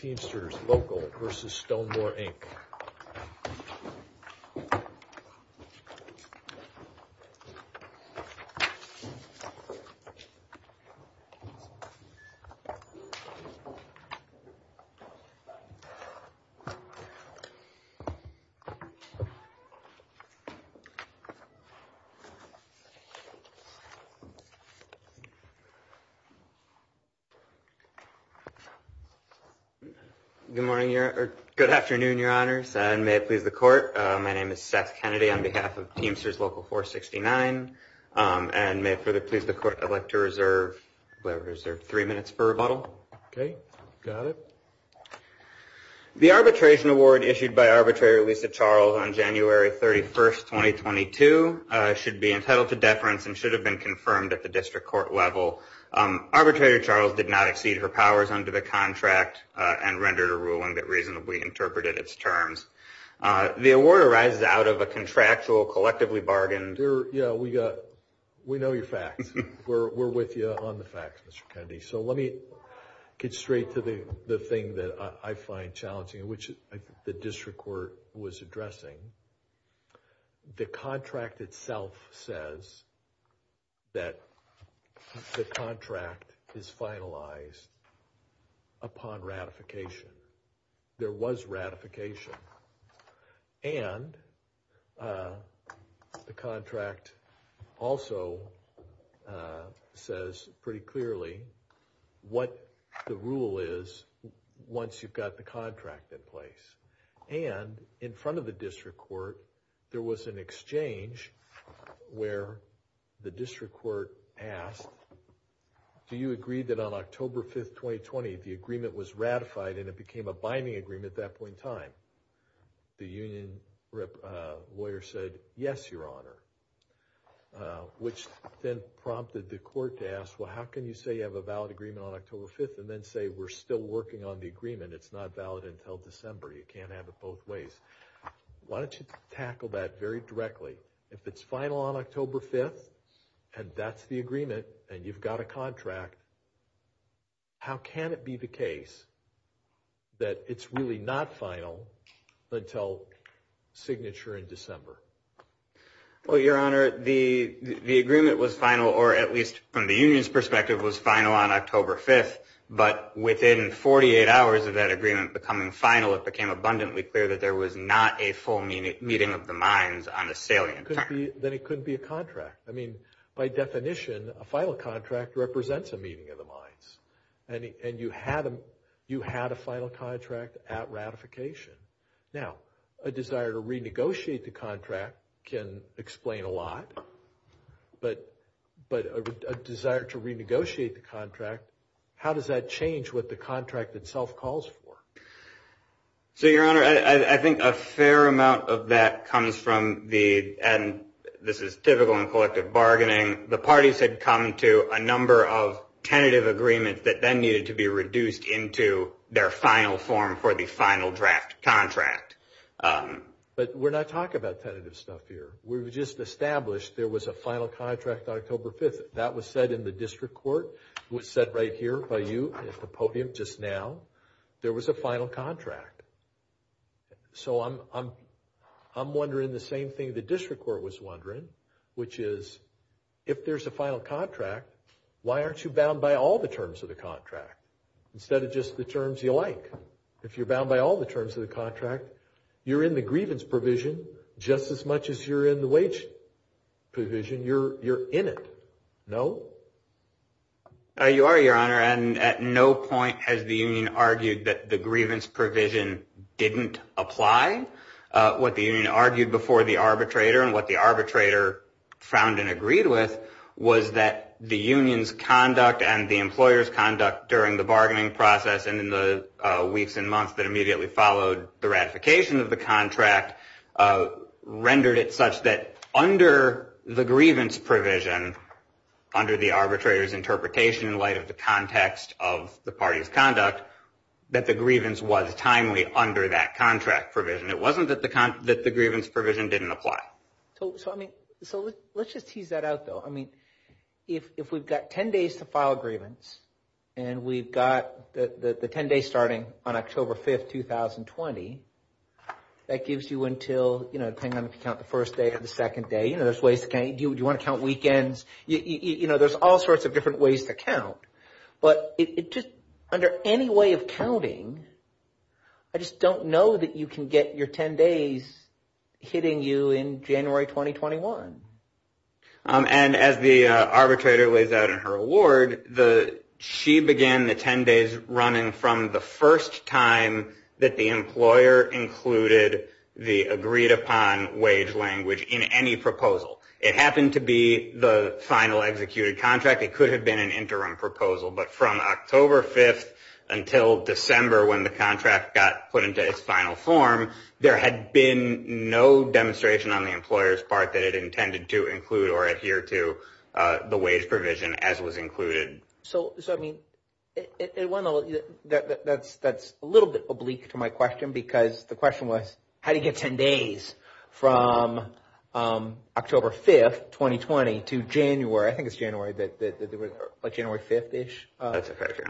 v. Stonemor INC Good morning, or good afternoon, your honors, and may it please the court. My name is Seth Kennedy on behalf of Teamsters Local 469, and may it please the court, I'd like to reserve three minutes for rebuttal. Okay, got it. The arbitration award issued by Arbitrator Lisa Charles on January 31st, 2022 should be entitled to deference and should have been confirmed at the district court level. Arbitrator Charles did not exceed her powers under the contract and rendered a ruling that reasonably interpreted its terms. The award arises out of a contractual, collectively bargained... Yeah, we know your facts. We're with you on the facts, Mr. Kennedy. So let me get straight to the thing that I find challenging, which the district court was addressing. The contract itself says that the contract is finalized upon ratification. There was ratification. And the contract also says pretty clearly what the rule is once you've got the contract in place. And in front of the district court, there was an exchange where the district court asked, do you agree that on October 5th, 2020, the agreement was ratified and it became a binding agreement at that point in time? The union lawyer said, yes, your honor, which then prompted the court to ask, well, how can you say you have a valid agreement on December? You can't have it both ways. Why don't you tackle that very directly? If it's final on October 5th and that's the agreement and you've got a contract, how can it be the case that it's really not final until signature in December? Well, your honor, the agreement was final, or at least from the union's perspective, was final on October 5th. But within 48 hours of that agreement becoming final, it became abundantly clear that there was not a full meeting of the minds on a salient term. Then it couldn't be a contract. I mean, by definition, a final contract represents a meeting of the minds. And you had a final contract at ratification. Now, a desire to renegotiate the contract, how does that change what the contract itself calls for? So, your honor, I think a fair amount of that comes from the, and this is typical in collective bargaining, the parties had come to a number of tentative agreements that then needed to be reduced into their final form for the final draft contract. But we're not talking about tentative stuff here. We've just established there was a final contract on October 5th. That was said in the district court. It was said right here by you at the podium just now. There was a final contract. So, I'm wondering the same thing the district court was wondering, which is, if there's a final contract, why aren't you bound by all the terms of the contract instead of just the terms you like? If you're bound by all the terms of the contract, you're in the grievance provision just as much as you're in the wage provision. You're in it. No? You are, your honor. And at no point has the union argued that the grievance provision didn't apply. What the union argued before the arbitrator and what the arbitrator found and agreed with was that the union's conduct and the employer's conduct during the bargaining process and in the weeks and months that immediately followed the ratification of the contract rendered it such that under the grievance provision, under the arbitrator's interpretation in light of the context of the party's conduct, that the grievance was timely under that contract provision. It wasn't that the grievance provision didn't apply. So let's just tease that out though. I mean, if we've got 10 days to file a grievance and we've got the 10 days starting on October 5th, 2020, that gives you until, you know, depending on if you count the first day or the second day, you know, there's ways to count. Do you want to count weekends? You know, there's all sorts of different ways to count. But it just, under any way of counting, I just don't know that you can get your 10 days hitting you in January 2021. And as the arbitrator lays out in her award, she began the 10 days running from the first time that the employer included the agreed upon wage language in any proposal. It happened to be the final executed contract. It could have been an interim proposal. But from October 5th until December when the contract got put into its final form, there had been no demonstration on the employer's part that it intended to include or adhere to the wage provision as was included. So, I mean, that's a little bit oblique to my question because the question was, how do you get 10 days from October 5th, 2020 to January? I think it's January, like January 5th-ish. That's a fair figure.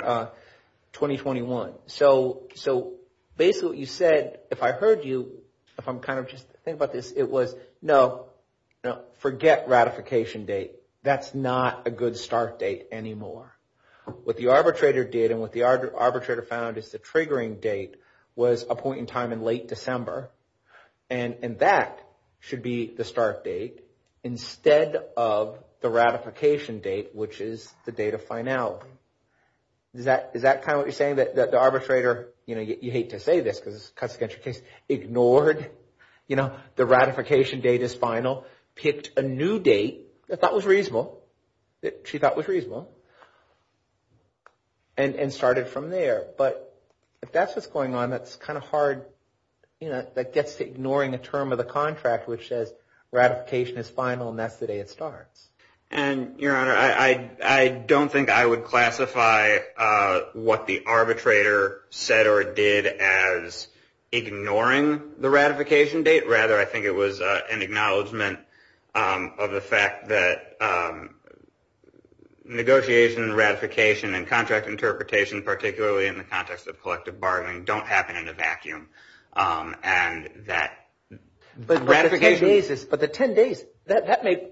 So, basically what you said, if I heard you, if I'm kind of just thinking about this, it was, no, forget ratification date. That's not a good start date anymore. What the arbitrator did and what the arbitrator found is the triggering date was a point in time in late December. And that should be the start date instead of the ratification date, which is the date they find out. Is that kind of what you're saying? That the arbitrator, you hate to say this because it cuts against your case, ignored the ratification date as final, picked a new date that was reasonable, that she thought was reasonable, and started from there. But if that's what's going on, that's kind of hard. That gets to ignoring the term of the contract, which says ratification is final and that's the day it starts. And, your honor, I don't think I would classify what the arbitrator said or did as ignoring the ratification date. Rather, I think it was an acknowledgment of the fact that negotiation, ratification, and contract interpretation, particularly in the context of collective bargaining, don't happen in a vacuum. And that ratification... But the 10 days, that may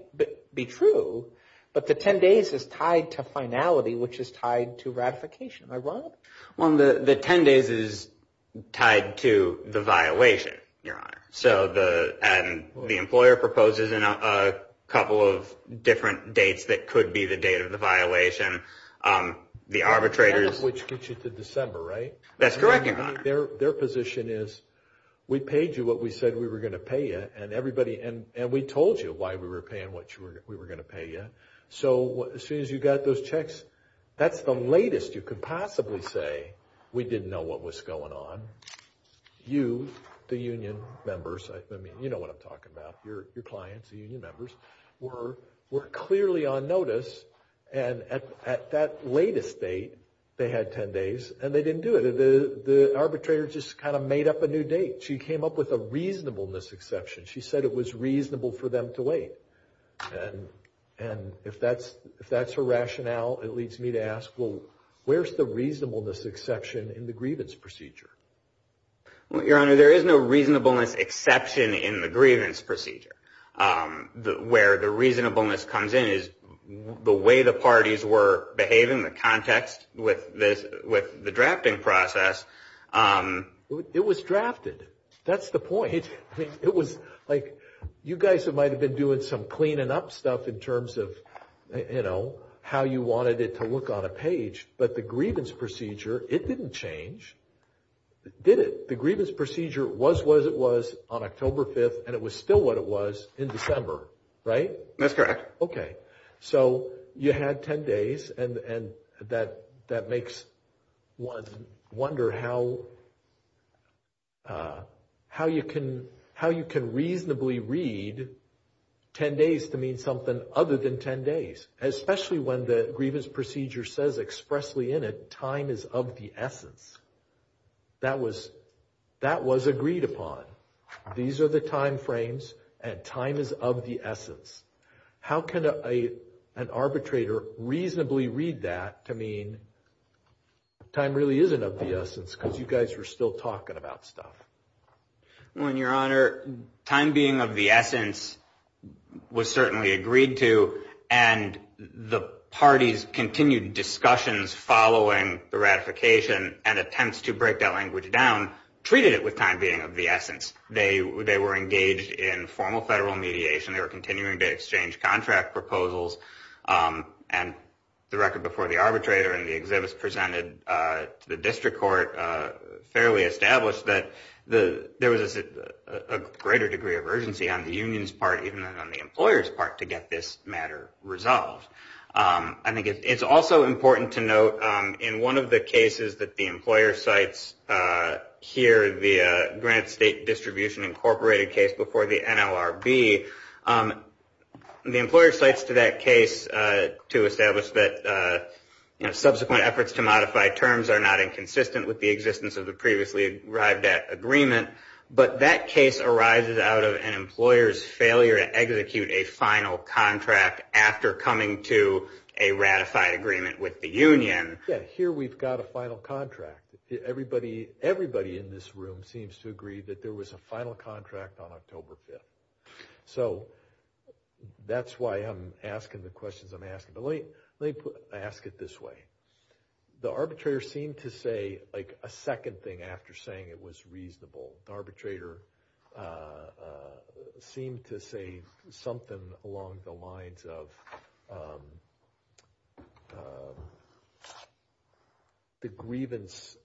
be true, but the 10 days is tied to finality, which is tied to ratification. Am I wrong? Well, the 10 days is tied to the violation, your honor. So the employer proposes a couple of different dates that could be the date of the violation. The arbitrators... Which gets you to December, right? That's correct, your honor. Their position is, we paid you what we said we were going to pay you, and we told you why we were paying what we were going to pay you. So as soon as you got those checks, that's the latest you could possibly say, we didn't know what was going on. You, the union members, I mean, you know what I'm talking about, your clients, the union members, were clearly on arbitrator just kind of made up a new date. She came up with a reasonableness exception. She said it was reasonable for them to wait. And if that's her rationale, it leads me to ask, well, where's the reasonableness exception in the grievance procedure? Well, your honor, there is no reasonableness exception in the grievance procedure. Where the reasonableness comes in is the way the parties were behaving, the context with the It was drafted. That's the point. I mean, it was like, you guys might have been doing some cleaning up stuff in terms of, you know, how you wanted it to look on a page, but the grievance procedure, it didn't change, did it? The grievance procedure was what it was on October 5th, and it was still what it was in December, right? That's correct. Okay. So you had 10 days, and that makes one wonder how you can reasonably read 10 days to mean something other than 10 days, especially when the grievance procedure says expressly in it, time is of the essence. That was agreed upon. These are the timeframes, and time is of the essence. How can an arbitrator reasonably read that to mean time really isn't of the essence because you guys were still talking about stuff? Well, your honor, time being of the essence was certainly agreed to, and the parties continued discussions following the ratification and attempts to break that language down, treated it with time being of the essence. They were engaged in formal federal mediation. They were continuing to exchange contract proposals, and the record before the arbitrator and the exhibits presented to the district court fairly established that there was a greater degree of urgency on the union's part even than on the employer's part to get this matter resolved. I think it's also important to note in one of the cases that the employer cites here, the Granite State Distribution Incorporated case before the NLRB, the employer cites to that case to establish that subsequent efforts to modify terms are not inconsistent with the existence of the previously arrived at agreement, but that case arises out of an to a ratified agreement with the union. Yeah, here we've got a final contract. Everybody in this room seems to agree that there was a final contract on October 5th. So that's why I'm asking the questions I'm asking, but let me ask it this way. The arbitrator seemed to say a second thing after saying it was that the grievance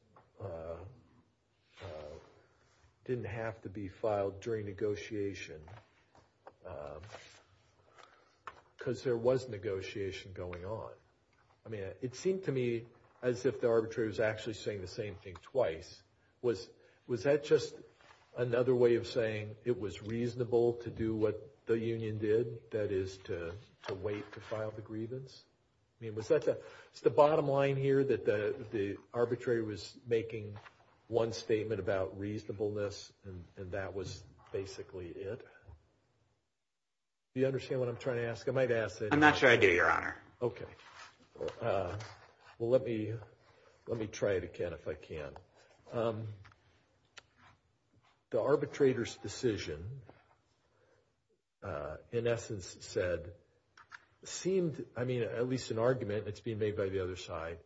didn't have to be filed during negotiation because there was negotiation going on. I mean, it seemed to me as if the arbitrator was actually saying the same thing twice. Was that just another way of saying it was reasonable to do what the union did, that is to wait to file the grievance? I mean, was that the bottom line here that the arbitrator was making one statement about reasonableness and that was basically it? Do you understand what I'm trying to ask? I might ask it. I'm not sure I do, Your Honor. Okay. Well, let me try it again if I can. The arbitrator's decision, in essence said, seemed, I mean, at least an argument that's being made by the other side,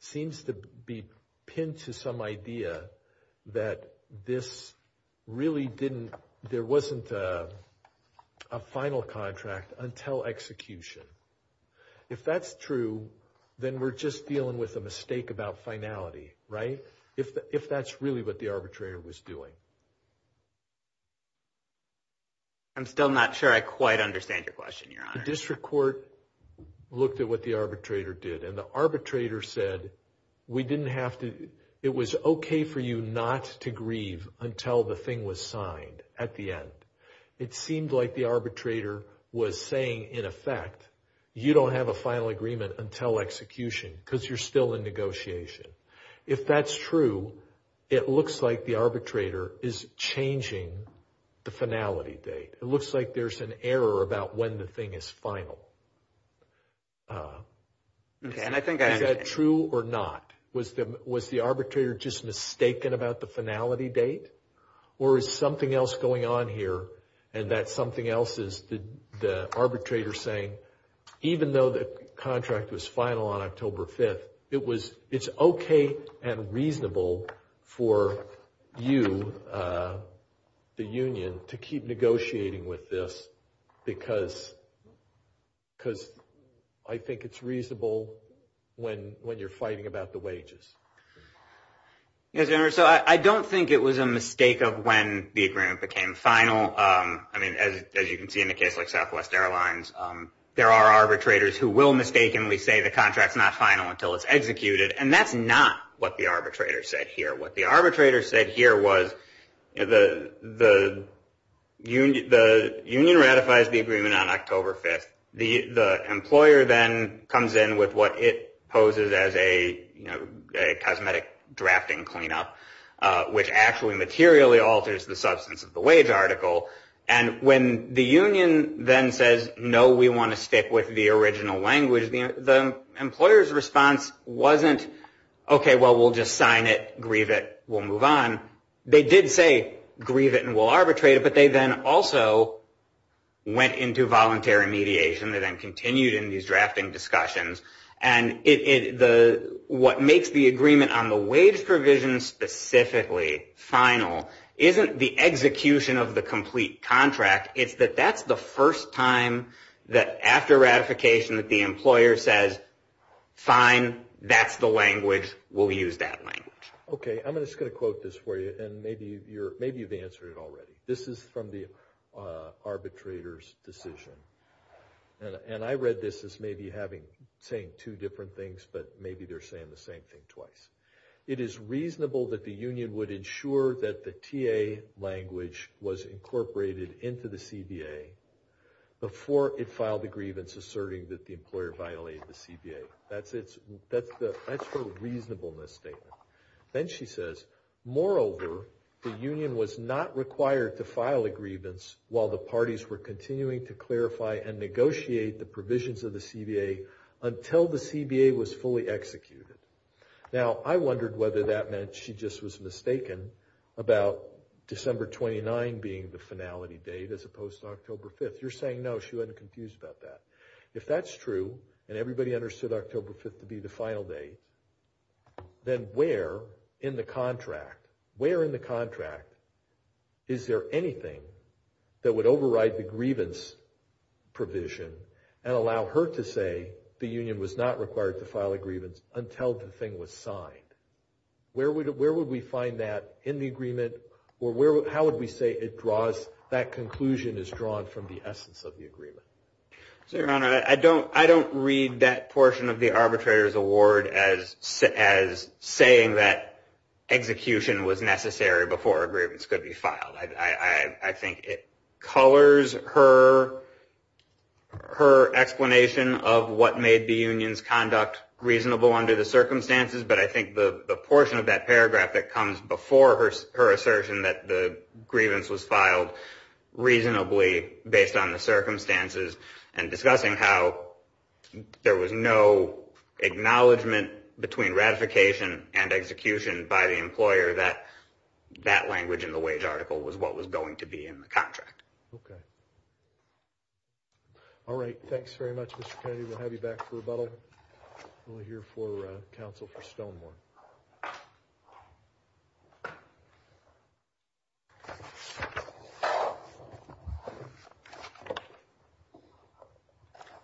seems to be pinned to some idea that this really didn't, there wasn't a final contract until execution. If that's true, then we're just dealing with a mistake about finality, right? If that's really what the arbitrator was doing. I'm still not sure I quite understand your question, Your Honor. The district court looked at what the arbitrator did and the arbitrator said, we didn't have to, it was okay for you not to grieve until the thing was signed at the end. It seemed like the arbitrator was saying, in effect, you don't have a final agreement until execution because you're still in negotiation. If that's true, it looks like the arbitrator is changing the finality date. It looks like there's an error about when the thing is final. Is that true or not? Was the arbitrator just mistaken about the finality date or is something else going on here and that something else is the arbitrator saying, even though the contract was final on October 5th, it's okay and reasonable for you, the union, to keep negotiating with this because I think it's reasonable when you're fighting about the wages. Yes, Your Honor. I don't think it was a mistake of when the agreement became final. As you can see in a case like Southwest Airlines, there are arbitrators who will mistakenly say the contract's not final until it's executed and that's not what the arbitrator said here. What the arbitrator said here was the union ratifies the agreement on October 5th. The cosmetic drafting cleanup, which actually materially alters the substance of the wage article and when the union then says, no, we want to stick with the original language, the employer's response wasn't, okay, well, we'll just sign it, grieve it, we'll move on. They did say grieve it and we'll arbitrate it, but they then also went into voluntary mediation and then continued in these drafting discussions and what makes the agreement on the wage provision specifically final isn't the execution of the complete contract, it's that that's the first time that after ratification that the employer says, fine, that's the language, we'll use that language. Okay, I'm just going to quote this for you and maybe you've answered it already. This is from the arbitrator's decision and I read this as maybe having, saying two different things but maybe they're saying the same thing twice. It is reasonable that the union would ensure that the TA language was incorporated into the CBA before it filed the grievance asserting that the employer violated the CBA. That's the reasonableness statement. Then she says, moreover, the union was not required to file a grievance while the parties were continuing to clarify and negotiate the provisions of the CBA until the CBA was fully executed. Now I wondered whether that meant she just was mistaken about December 29 being the finality date as opposed to October 5th. You're saying no, she wasn't confused about that. If that's true and everybody understood October 5th to be the final date, then where in the contract, where in the contract is there anything that would override the grievance provision and allow her to say the union was not required to file a grievance until the thing was signed? Where would we find that in the agreement or how would we say it draws, that conclusion is drawn from the essence of the agreement? Your Honor, I don't read that portion of the arbitrator's award as saying that execution was necessary before a grievance could be filed. I think it colors her explanation of what made the union's conduct reasonable under the circumstances, but I think the portion of that paragraph that comes before her assertion that the grievance was filed reasonably based on the circumstances and discussing how there was no acknowledgment between ratification and execution by the employer that that language in the wage article was what was going to be in the contract. Okay. All right. Thanks very much, Mr. Kennedy. We'll have you back for rebuttal. We'll hear from you before counsel for Stonemore.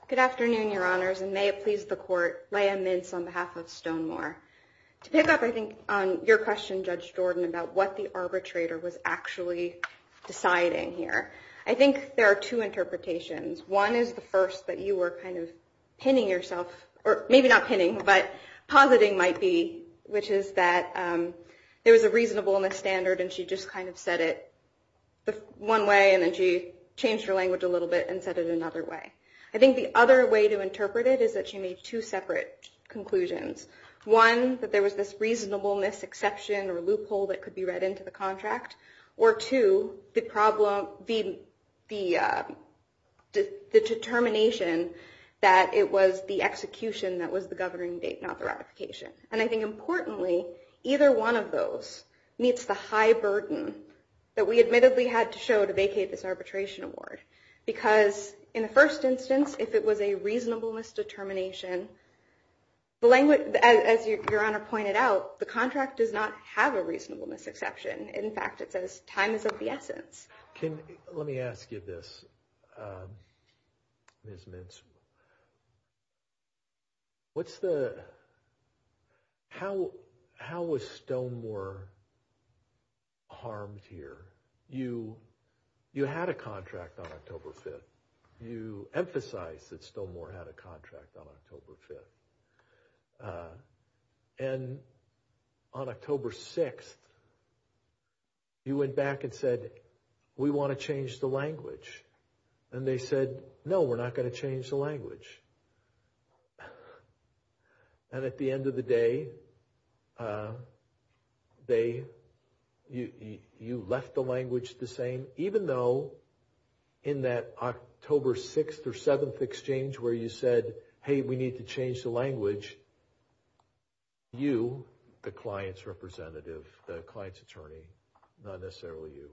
Good afternoon, Your Honors, and may it please the court, Leah Mintz on behalf of Stonemore. To pick up, I think, on your question, Judge Jordan, about what the arbitrator was actually deciding here, I think there are two interpretations. One is the first that you were kind of pinning yourself, or maybe not pinning, but positing might be, which is that there was a reasonableness standard and she just kind of said it one way, and then she changed her language a little bit and said it another way. I think the other way to interpret it is that she made two separate conclusions. One, that there was this reasonableness exception or loophole that could be read into the contract. Or two, the determination that it was the execution that was the governing date, not the ratification. And I think, importantly, either one of those meets the high burden that we admittedly had to show to vacate this arbitration award. Because in the first instance, if it was a reasonableness determination, as Your Honor pointed out, the contract does not have a reasonableness exception. In fact, it says time is of the essence. Let me ask you this, Ms. Mintz. How was Stonemore harmed here? You had a contract on October 5th. And on October 6th, you went back and said, we want to change the language. And they said, no, we're not going to change the language. And at the end of the day, you left the language the same, even though in that October 6th or 7th exchange where you said, hey, we need to change the language. You, the client's representative, the client's attorney, not necessarily you,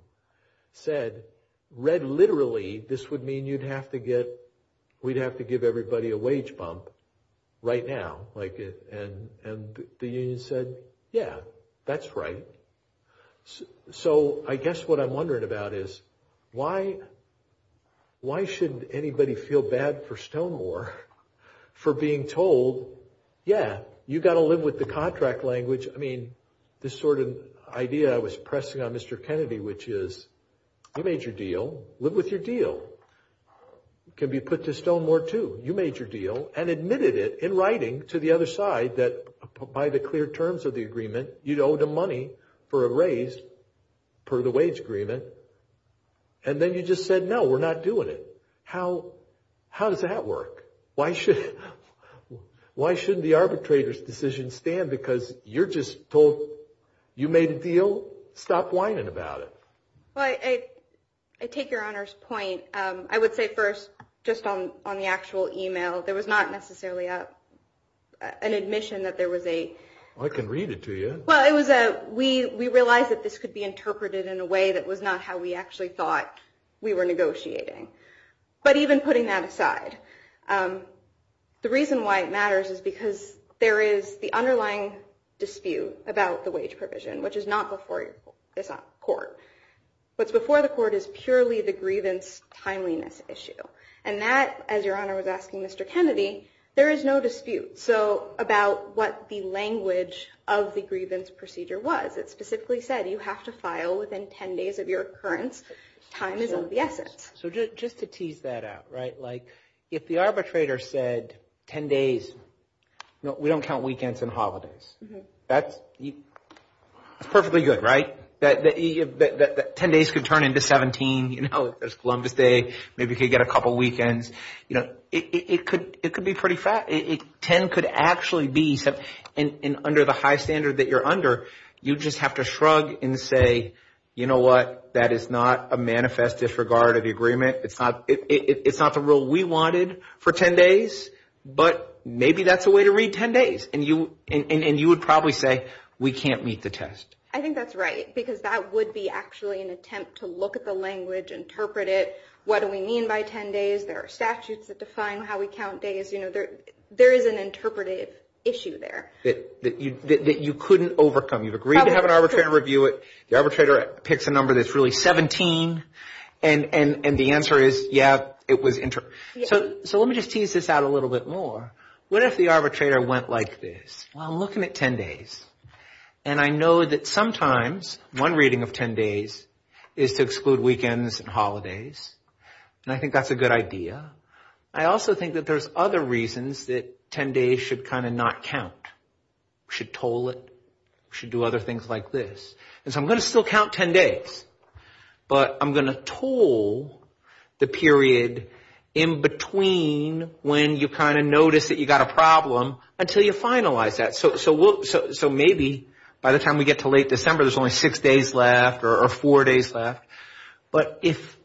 said, read literally, this would mean you'd have to get, we'd have to give everybody a wage bump right now. And the union said, yeah, that's right. So I guess what I'm for being told, yeah, you got to live with the contract language. I mean, this sort of idea I was pressing on Mr. Kennedy, which is you made your deal, live with your deal. It can be put to Stonemore too. You made your deal and admitted it in writing to the other side that by the clear terms of the agreement, you'd owe the money for a raise per the wage agreement. And then you just said, no, we're not doing it. How does that work? Why shouldn't the arbitrator's decision stand? Because you're just told, you made a deal, stop whining about it. Well, I take your Honor's point. I would say first, just on the actual email, there was not necessarily an admission that there was a... I can read it to you. Well, we realized that this could be interpreted in a way that was not how we actually thought we were negotiating. But even putting that aside, the reason why it matters is because there is the underlying dispute about the wage provision, which is not before the court. What's before the court is purely the grievance timeliness issue. And that, as your Honor was asking Mr. Kennedy, there is no dispute about what the language of the grievance procedure was. It specifically said you have to So just to tease that out, right? Like if the arbitrator said 10 days, we don't count weekends and holidays. That's perfectly good, right? That 10 days could turn into 17, you know, there's Columbus Day, maybe you could get a couple weekends. It could be pretty fast. 10 could actually be... And under the high standard that you're under, you just have to shrug and say, you know what? That is not a manifest disregard of the agreement. It's not the rule we wanted for 10 days, but maybe that's a way to read 10 days. And you would probably say, we can't meet the test. I think that's right, because that would be actually an attempt to look at the language, interpret it. What do we mean by 10 days? There are statutes that define how we count days. You know, there is an interpretive issue there. That you couldn't overcome. You've agreed to have an arbitrator review it. The arbitrator picks a number that's really 17, and the answer is, yeah, it was interpreted. So let me just tease this out a little bit more. What if the arbitrator went like this? Well, I'm looking at 10 days, and I know that sometimes one reading of 10 days is to exclude weekends and holidays, and I think that's a good idea. I also think that there's other reasons that 10 days should kind of not count. We should toll it. We should do other things like this. And so I'm going to still count 10 days, but I'm going to toll the period in between when you kind of notice that you got a problem until you finalize that. So maybe by the time we get to late December, there's only six days left or four days left. But if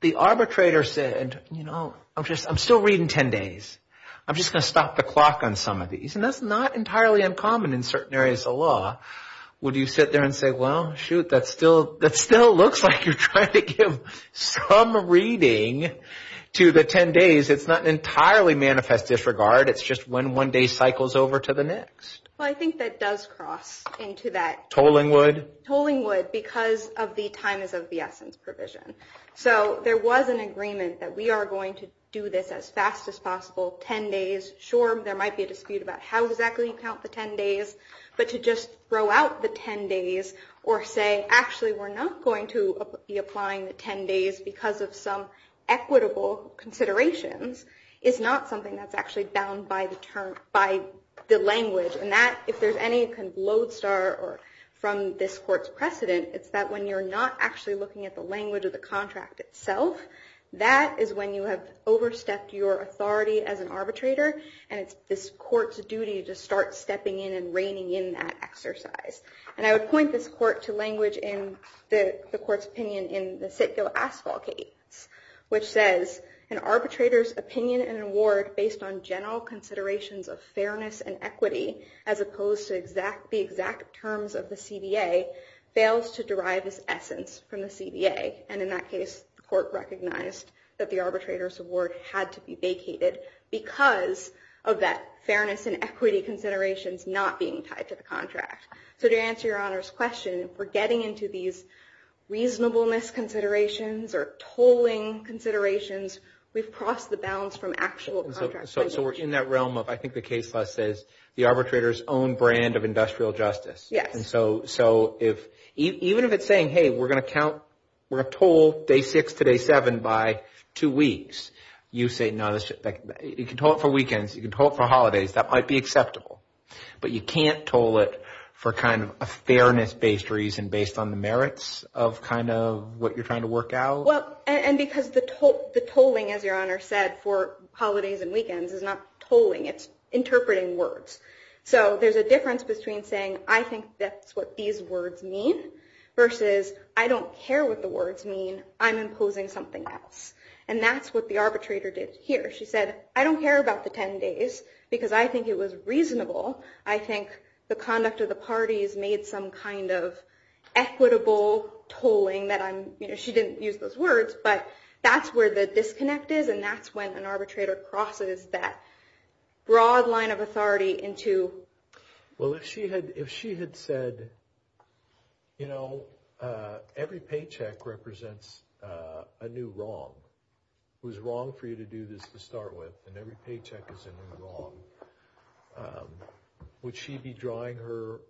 the arbitrator said, you know, I'm still reading 10 days. I'm just going to stop the clock on some of these. And that's not entirely uncommon in certain areas of law. Would you sit there and say, well, shoot, that still looks like you're trying to give some reading to the 10 days. It's not an entirely manifest disregard. It's just when one day cycles over to the next. Well, I think that does cross into that. Tolling would? Tolling would because of the time is of the essence provision. So there was an agreement that we are going to do this as fast as possible. 10 days. Sure, there might be a dispute about how exactly you count the 10 days. But to just throw out the 10 days or say, actually, we're not going to be applying the 10 days because of some equitable considerations is not something that's actually bound by the term, by the language. And that if there's any kind of lodestar or from this court's precedent, it's that when you're not actually looking at the language of the contract itself, that is when you have overstepped your authority as an arbitrator. And it's this court's duty to start stepping in and reining in that exercise. And I would point this court to language in the court's opinion in the Sitka Asphalt case, which says, an arbitrator's opinion and award based on general considerations of fairness and equity, as opposed to the exact terms of the CBA, fails to derive its essence from the CBA. And in that case, the court recognized that the arbitrator's award had to be vacated because of that fairness and equity considerations not being tied to the contract. So to answer your Honor's question, we're getting into these reasonableness considerations or tolling considerations. We've crossed the balance from actual contract language. So we're in that realm of, I think the case law says, the arbitrator's own brand of industrial justice. Yes. And so if, even if it's saying, hey, we're going to count, we're going to toll day six to day seven by two weeks, you say, no, you can toll it for weekends, you can toll it for holidays, that might be acceptable. But you can't toll it for kind of a fairness based reason based on the merits of kind of what you're trying to work out. And because the tolling, as your Honor said, for holidays and weekends is not tolling. It's interpreting words. So there's a difference between saying, I think that's what these words mean, versus I don't care what the words mean, I'm imposing something else. And that's what the arbitrator did here. She said, I don't care about the 10 days because I think it was reasonable. I think the conduct of the parties made some kind of equitable tolling that I'm, you know, she didn't use those words. But that's where the disconnect is. And that's when an arbitrator crosses that broad line of authority into. Well, if she had, if she had said, you know, every paycheck represents a new wrong. It was wrong for you to do this to start with. And every paycheck is a new wrong. Would she be drawing her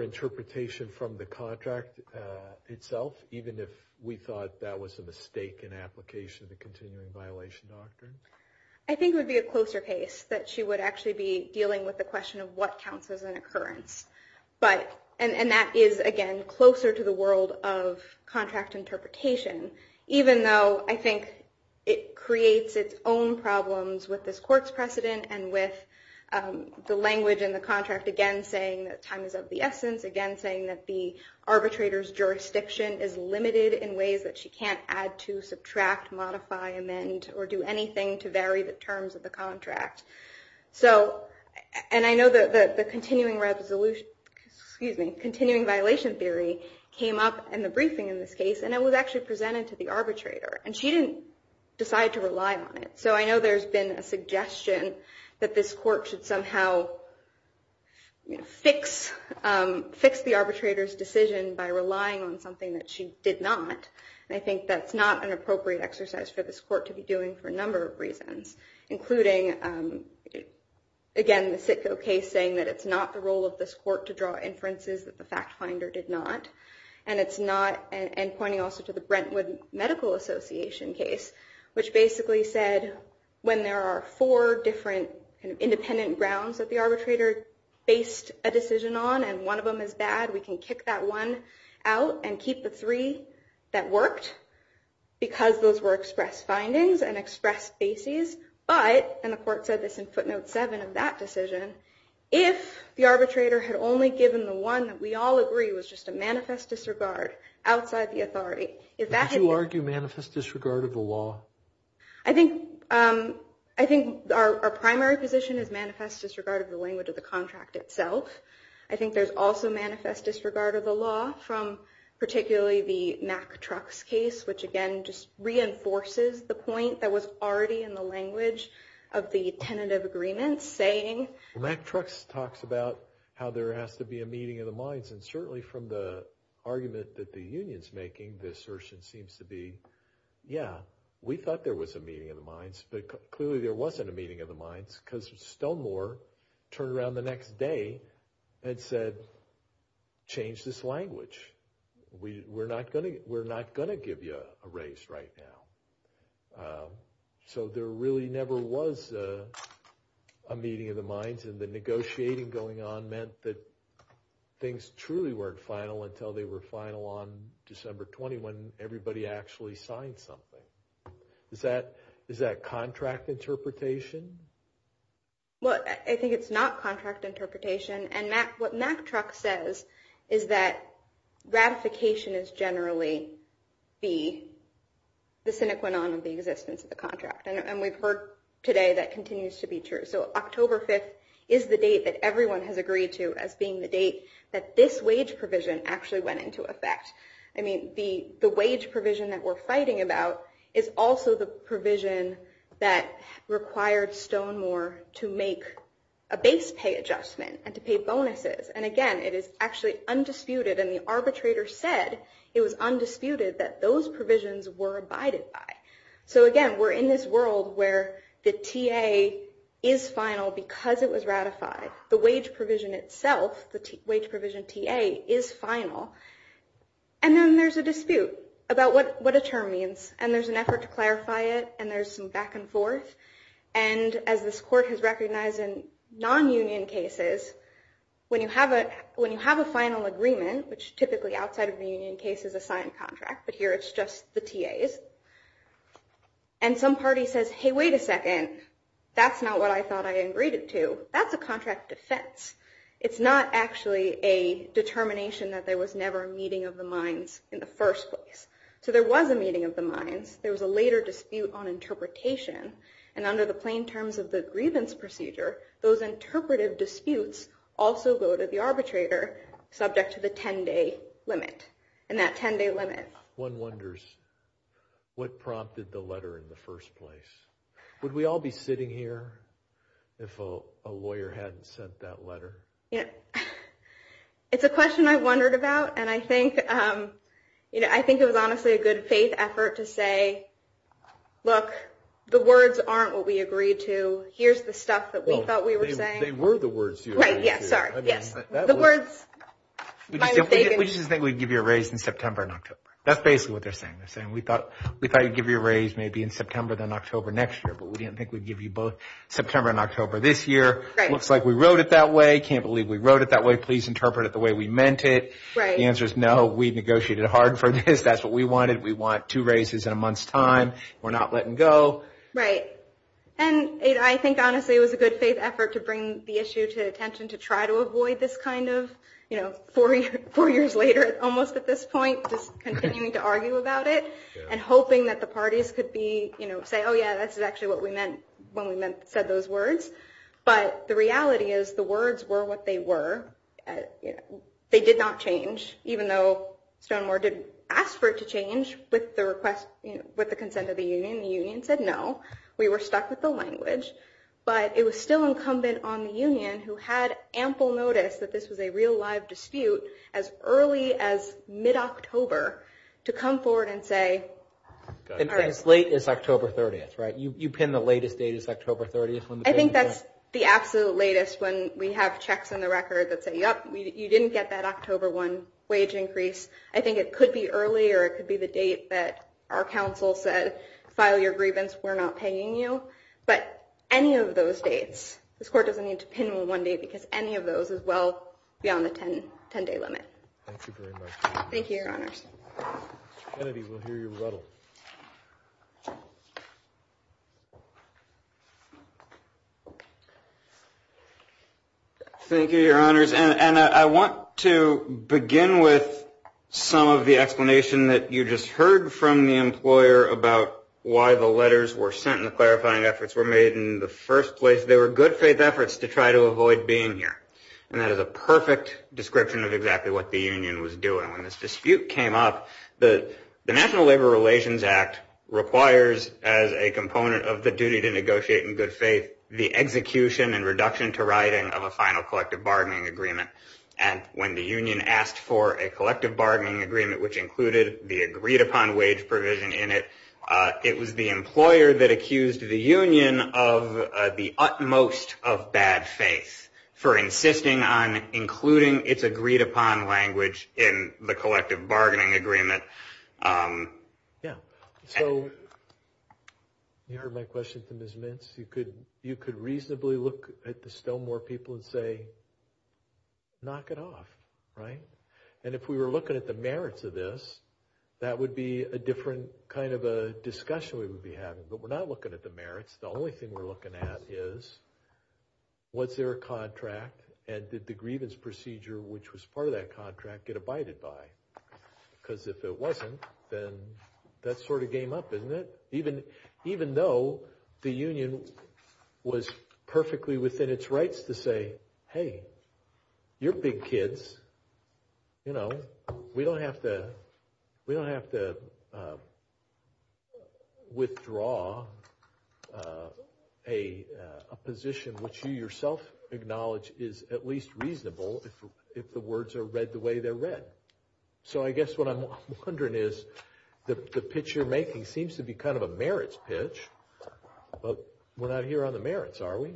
interpretation from the contract itself? Even if we thought that was a mistake in application of the continuing violation doctrine? I think it would be a closer case that she would actually be dealing with the question of what counts as an occurrence. But, and that is, again, closer to the world of contract interpretation. Even though I think it creates its own problems with this court's precedent and with the language in the contract, again, saying that time is of the essence. Again, saying that the arbitrator's jurisdiction is limited in ways that she can't add to, subtract, modify, amend, or do anything to vary the terms of the contract. So, and I know that the continuing resolution, excuse me, continuing violation theory came up in the briefing in this case. And it was actually presented to the arbitrator. And she didn't decide to rely on it. So I know there's been a suggestion that this court should somehow fix the arbitrator's decision by relying on something that she did not. And I think that's not an appropriate exercise for this court to be doing for a number of reasons. Including, again, the Sitko case saying that it's not the role of this court to draw inferences that the fact finder did not. And it's not, and pointing also to the Brentwood Medical Association case, which basically said when there are four different independent grounds that the arbitrator based a decision on, and one of them is bad, we can kick that one out and keep the three that worked. Because those were expressed findings and expressed bases. But, and the court said this in footnote seven of that decision, if the arbitrator had only given the one that we all agree was just a manifest disregard outside the authority. If that didn't- Did you argue manifest disregard of the law? I think our primary position is manifest disregard of the language of the contract itself. I think there's also manifest disregard of the law from particularly the MacTrux case, which again just reinforces the point that was already in the language of the tentative agreement saying- MacTrux talks about how there has to be a meeting of the minds. And certainly from the argument that the union's making, the assertion seems to be, yeah, we thought there was a meeting of the minds, but clearly there wasn't a meeting of the minds. Because Stonemore turned around the next day and said, change this language. We're not going to give you a raise right now. So there really never was a meeting of the minds. And the negotiating going on meant that things truly weren't final until they were final on December 20, when everybody actually signed something. Is that contract interpretation? Well, I think it's not contract interpretation. And what MacTrux says is that ratification is generally the sine qua non of the existence of the contract. And we've heard today that continues to be true. So October 5th is the date that everyone has agreed to as being the date that this wage provision actually went into effect. I mean, the wage provision that we're fighting about is also the provision that required Stonemore to make a base pay adjustment and to pay bonuses. And again, it is actually undisputed. And the arbitrator said it was undisputed that those provisions were abided by. So again, we're in this world where the TA is final because it was ratified. The wage provision itself, the wage provision TA, is final. And then there's a dispute about what a term means. And there's an effort to clarify it. And there's some back and forth. And as this court has recognized in non-union cases, when you have a final agreement, which typically outside of the union case is a signed contract, but here it's just the TAs, and some party says, hey, wait a second. That's not what I thought I agreed it to. That's a contract defense. It's not actually a determination that there was never a meeting of the minds in the first place. So there was a meeting of the minds. There was a later dispute on interpretation. And under the plain terms of the grievance procedure, those interpretive disputes also go to the arbitrator subject to the 10-day limit. And that 10-day limit. One wonders what prompted the letter in the first place. Would we all be sitting here if a lawyer hadn't sent that letter? Yeah. It's a question I've wondered about. And I think it was honestly a good faith effort to say, look, the words aren't what we agreed to. Here's the stuff that we thought we were saying. They were the words you agreed to. Right. Yeah. Sorry. Yes. The words. We just didn't think we'd give you a raise in September and October. That's basically what they're saying. We thought we'd give you a raise maybe in September then October next year. But we didn't think we'd give you both September and October this year. Looks like we wrote it that way. Can't believe we wrote it that way. Please interpret it the way we meant it. The answer is no. We negotiated hard for this. That's what we wanted. We want two raises in a month's time. We're not letting go. Right. And I think, honestly, it was a good faith effort to bring the issue to attention, to try to avoid this kind of four years later, almost at this point, just continuing to argue about it and hoping that the parties could say, oh, yeah, this is actually what we meant when we said those words. But the reality is the words were what they were. They did not change, even though Stonewall did ask for it to change with the consent of the union. The union said no. We were stuck with the language. But it was still incumbent on the union, who had ample notice that this was a real, live dispute, as early as mid-October, to come forward and say, all right. And as late as October 30th, right? You pinned the latest date as October 30th when the payment was made? I think that's the absolute latest when we have checks on the record that say, yep, you didn't get that October 1 wage increase. I think it could be earlier. It could be the date that our counsel said, file your grievance. We're not paying you. But any of those dates, this court doesn't need to pin one date, because any of those is well beyond the 10-day limit. Thank you very much. Thank you, Your Honors. Kennedy will hear your rebuttal. Thank you, Your Honors. And I want to begin with some of the explanation that you just heard from the employer about why the letters were sent and the clarifying efforts were made in the first place. They were good faith efforts to try to avoid being here. And that is a perfect description of exactly what the union was doing. When this dispute came up, the National Labor Relations Act requires, as a component of the duty to negotiate in good faith, the execution and reduction to writing of a final collective bargaining agreement. And when the union asked for a collective bargaining agreement, which included the agreed-upon wage provision in it, it was the employer that accused the union of the utmost of bad faith for insisting on including its agreed-upon language in the collective bargaining agreement. Yeah, so you heard my question to Ms. Mintz. You could reasonably look at the Stilmore people and say, knock it off, right? And if we were looking at the merits of this, that would be a different kind of a discussion we would be having. But we're not looking at the merits. The only thing we're looking at is, was there a contract? And did the grievance procedure, which was part of that contract, get abided by? Because if it wasn't, then that's sort of game up, isn't it? Even though the union was perfectly within its rights to say, hey, you're big kids. We don't have to withdraw a position which you yourself acknowledge is at least reasonable if the words are read the way they're read. So I guess what I'm wondering is, the pitch you're making seems to be kind of a merits pitch, but we're not here on the merits, are we?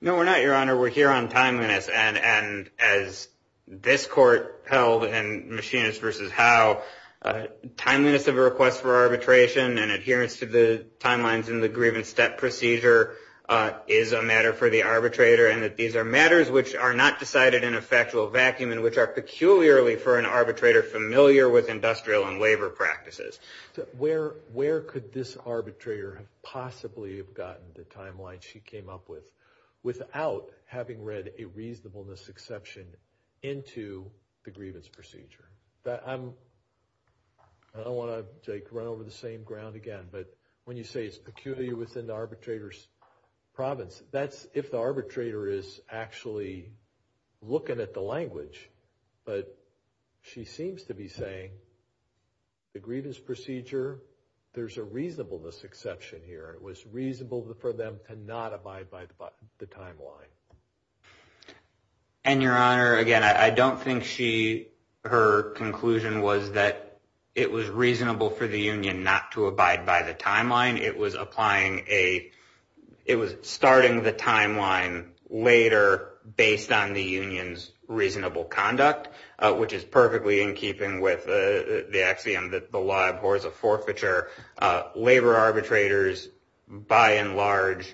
No, we're not, Your Honor. We're here on timeliness. And as this court held in Machinist versus Howe, timeliness of a request for arbitration and adherence to the timelines in the grievance step procedure is a matter for the arbitrator, and that these are matters which are not decided in a factual vacuum and which are peculiarly, for an arbitrator, familiar with industrial and labor practices. Where could this arbitrator have possibly gotten the timeline she came up with without having read a reasonableness exception into the grievance procedure? I don't want to run over the same ground again, but when you say it's peculiar within the arbitrator's province, that's if the arbitrator is actually looking at the language. But she seems to be saying, the grievance procedure, there's a reasonableness exception here. It was reasonable for them to not abide by the timeline. And, Your Honor, again, I don't think her conclusion was that it was reasonable for the union not to abide by the timeline. It was starting the timeline later based on the union's reasonable conduct, which is perfectly in keeping with the axiom that the law abhors a forfeiture. Labor arbitrators, by and large,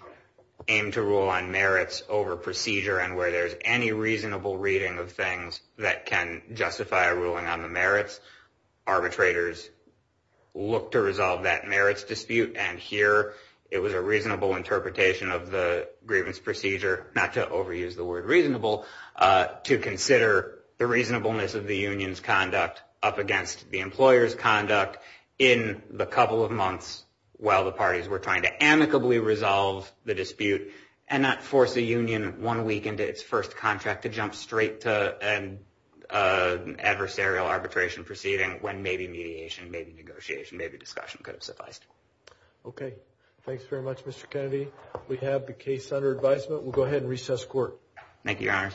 aim to rule on merits over procedure. And where there's any reasonable reading of things that can justify a ruling on the merits, arbitrators look to resolve that merits dispute. And here, it was a reasonable interpretation of the grievance procedure, not to overuse the word reasonable, to consider the reasonableness of the union's conduct up against the employer's conduct in the couple of months while the parties were trying to amicably resolve the dispute, and not force a union one week into its first contract to jump straight to an adversarial arbitration proceeding when maybe mediation, maybe negotiation, maybe discussion could have sufficed. OK. Thanks very much, Mr. Kennedy. We have the case under advisement. We'll go ahead and recess court. Thank you, Your Honor.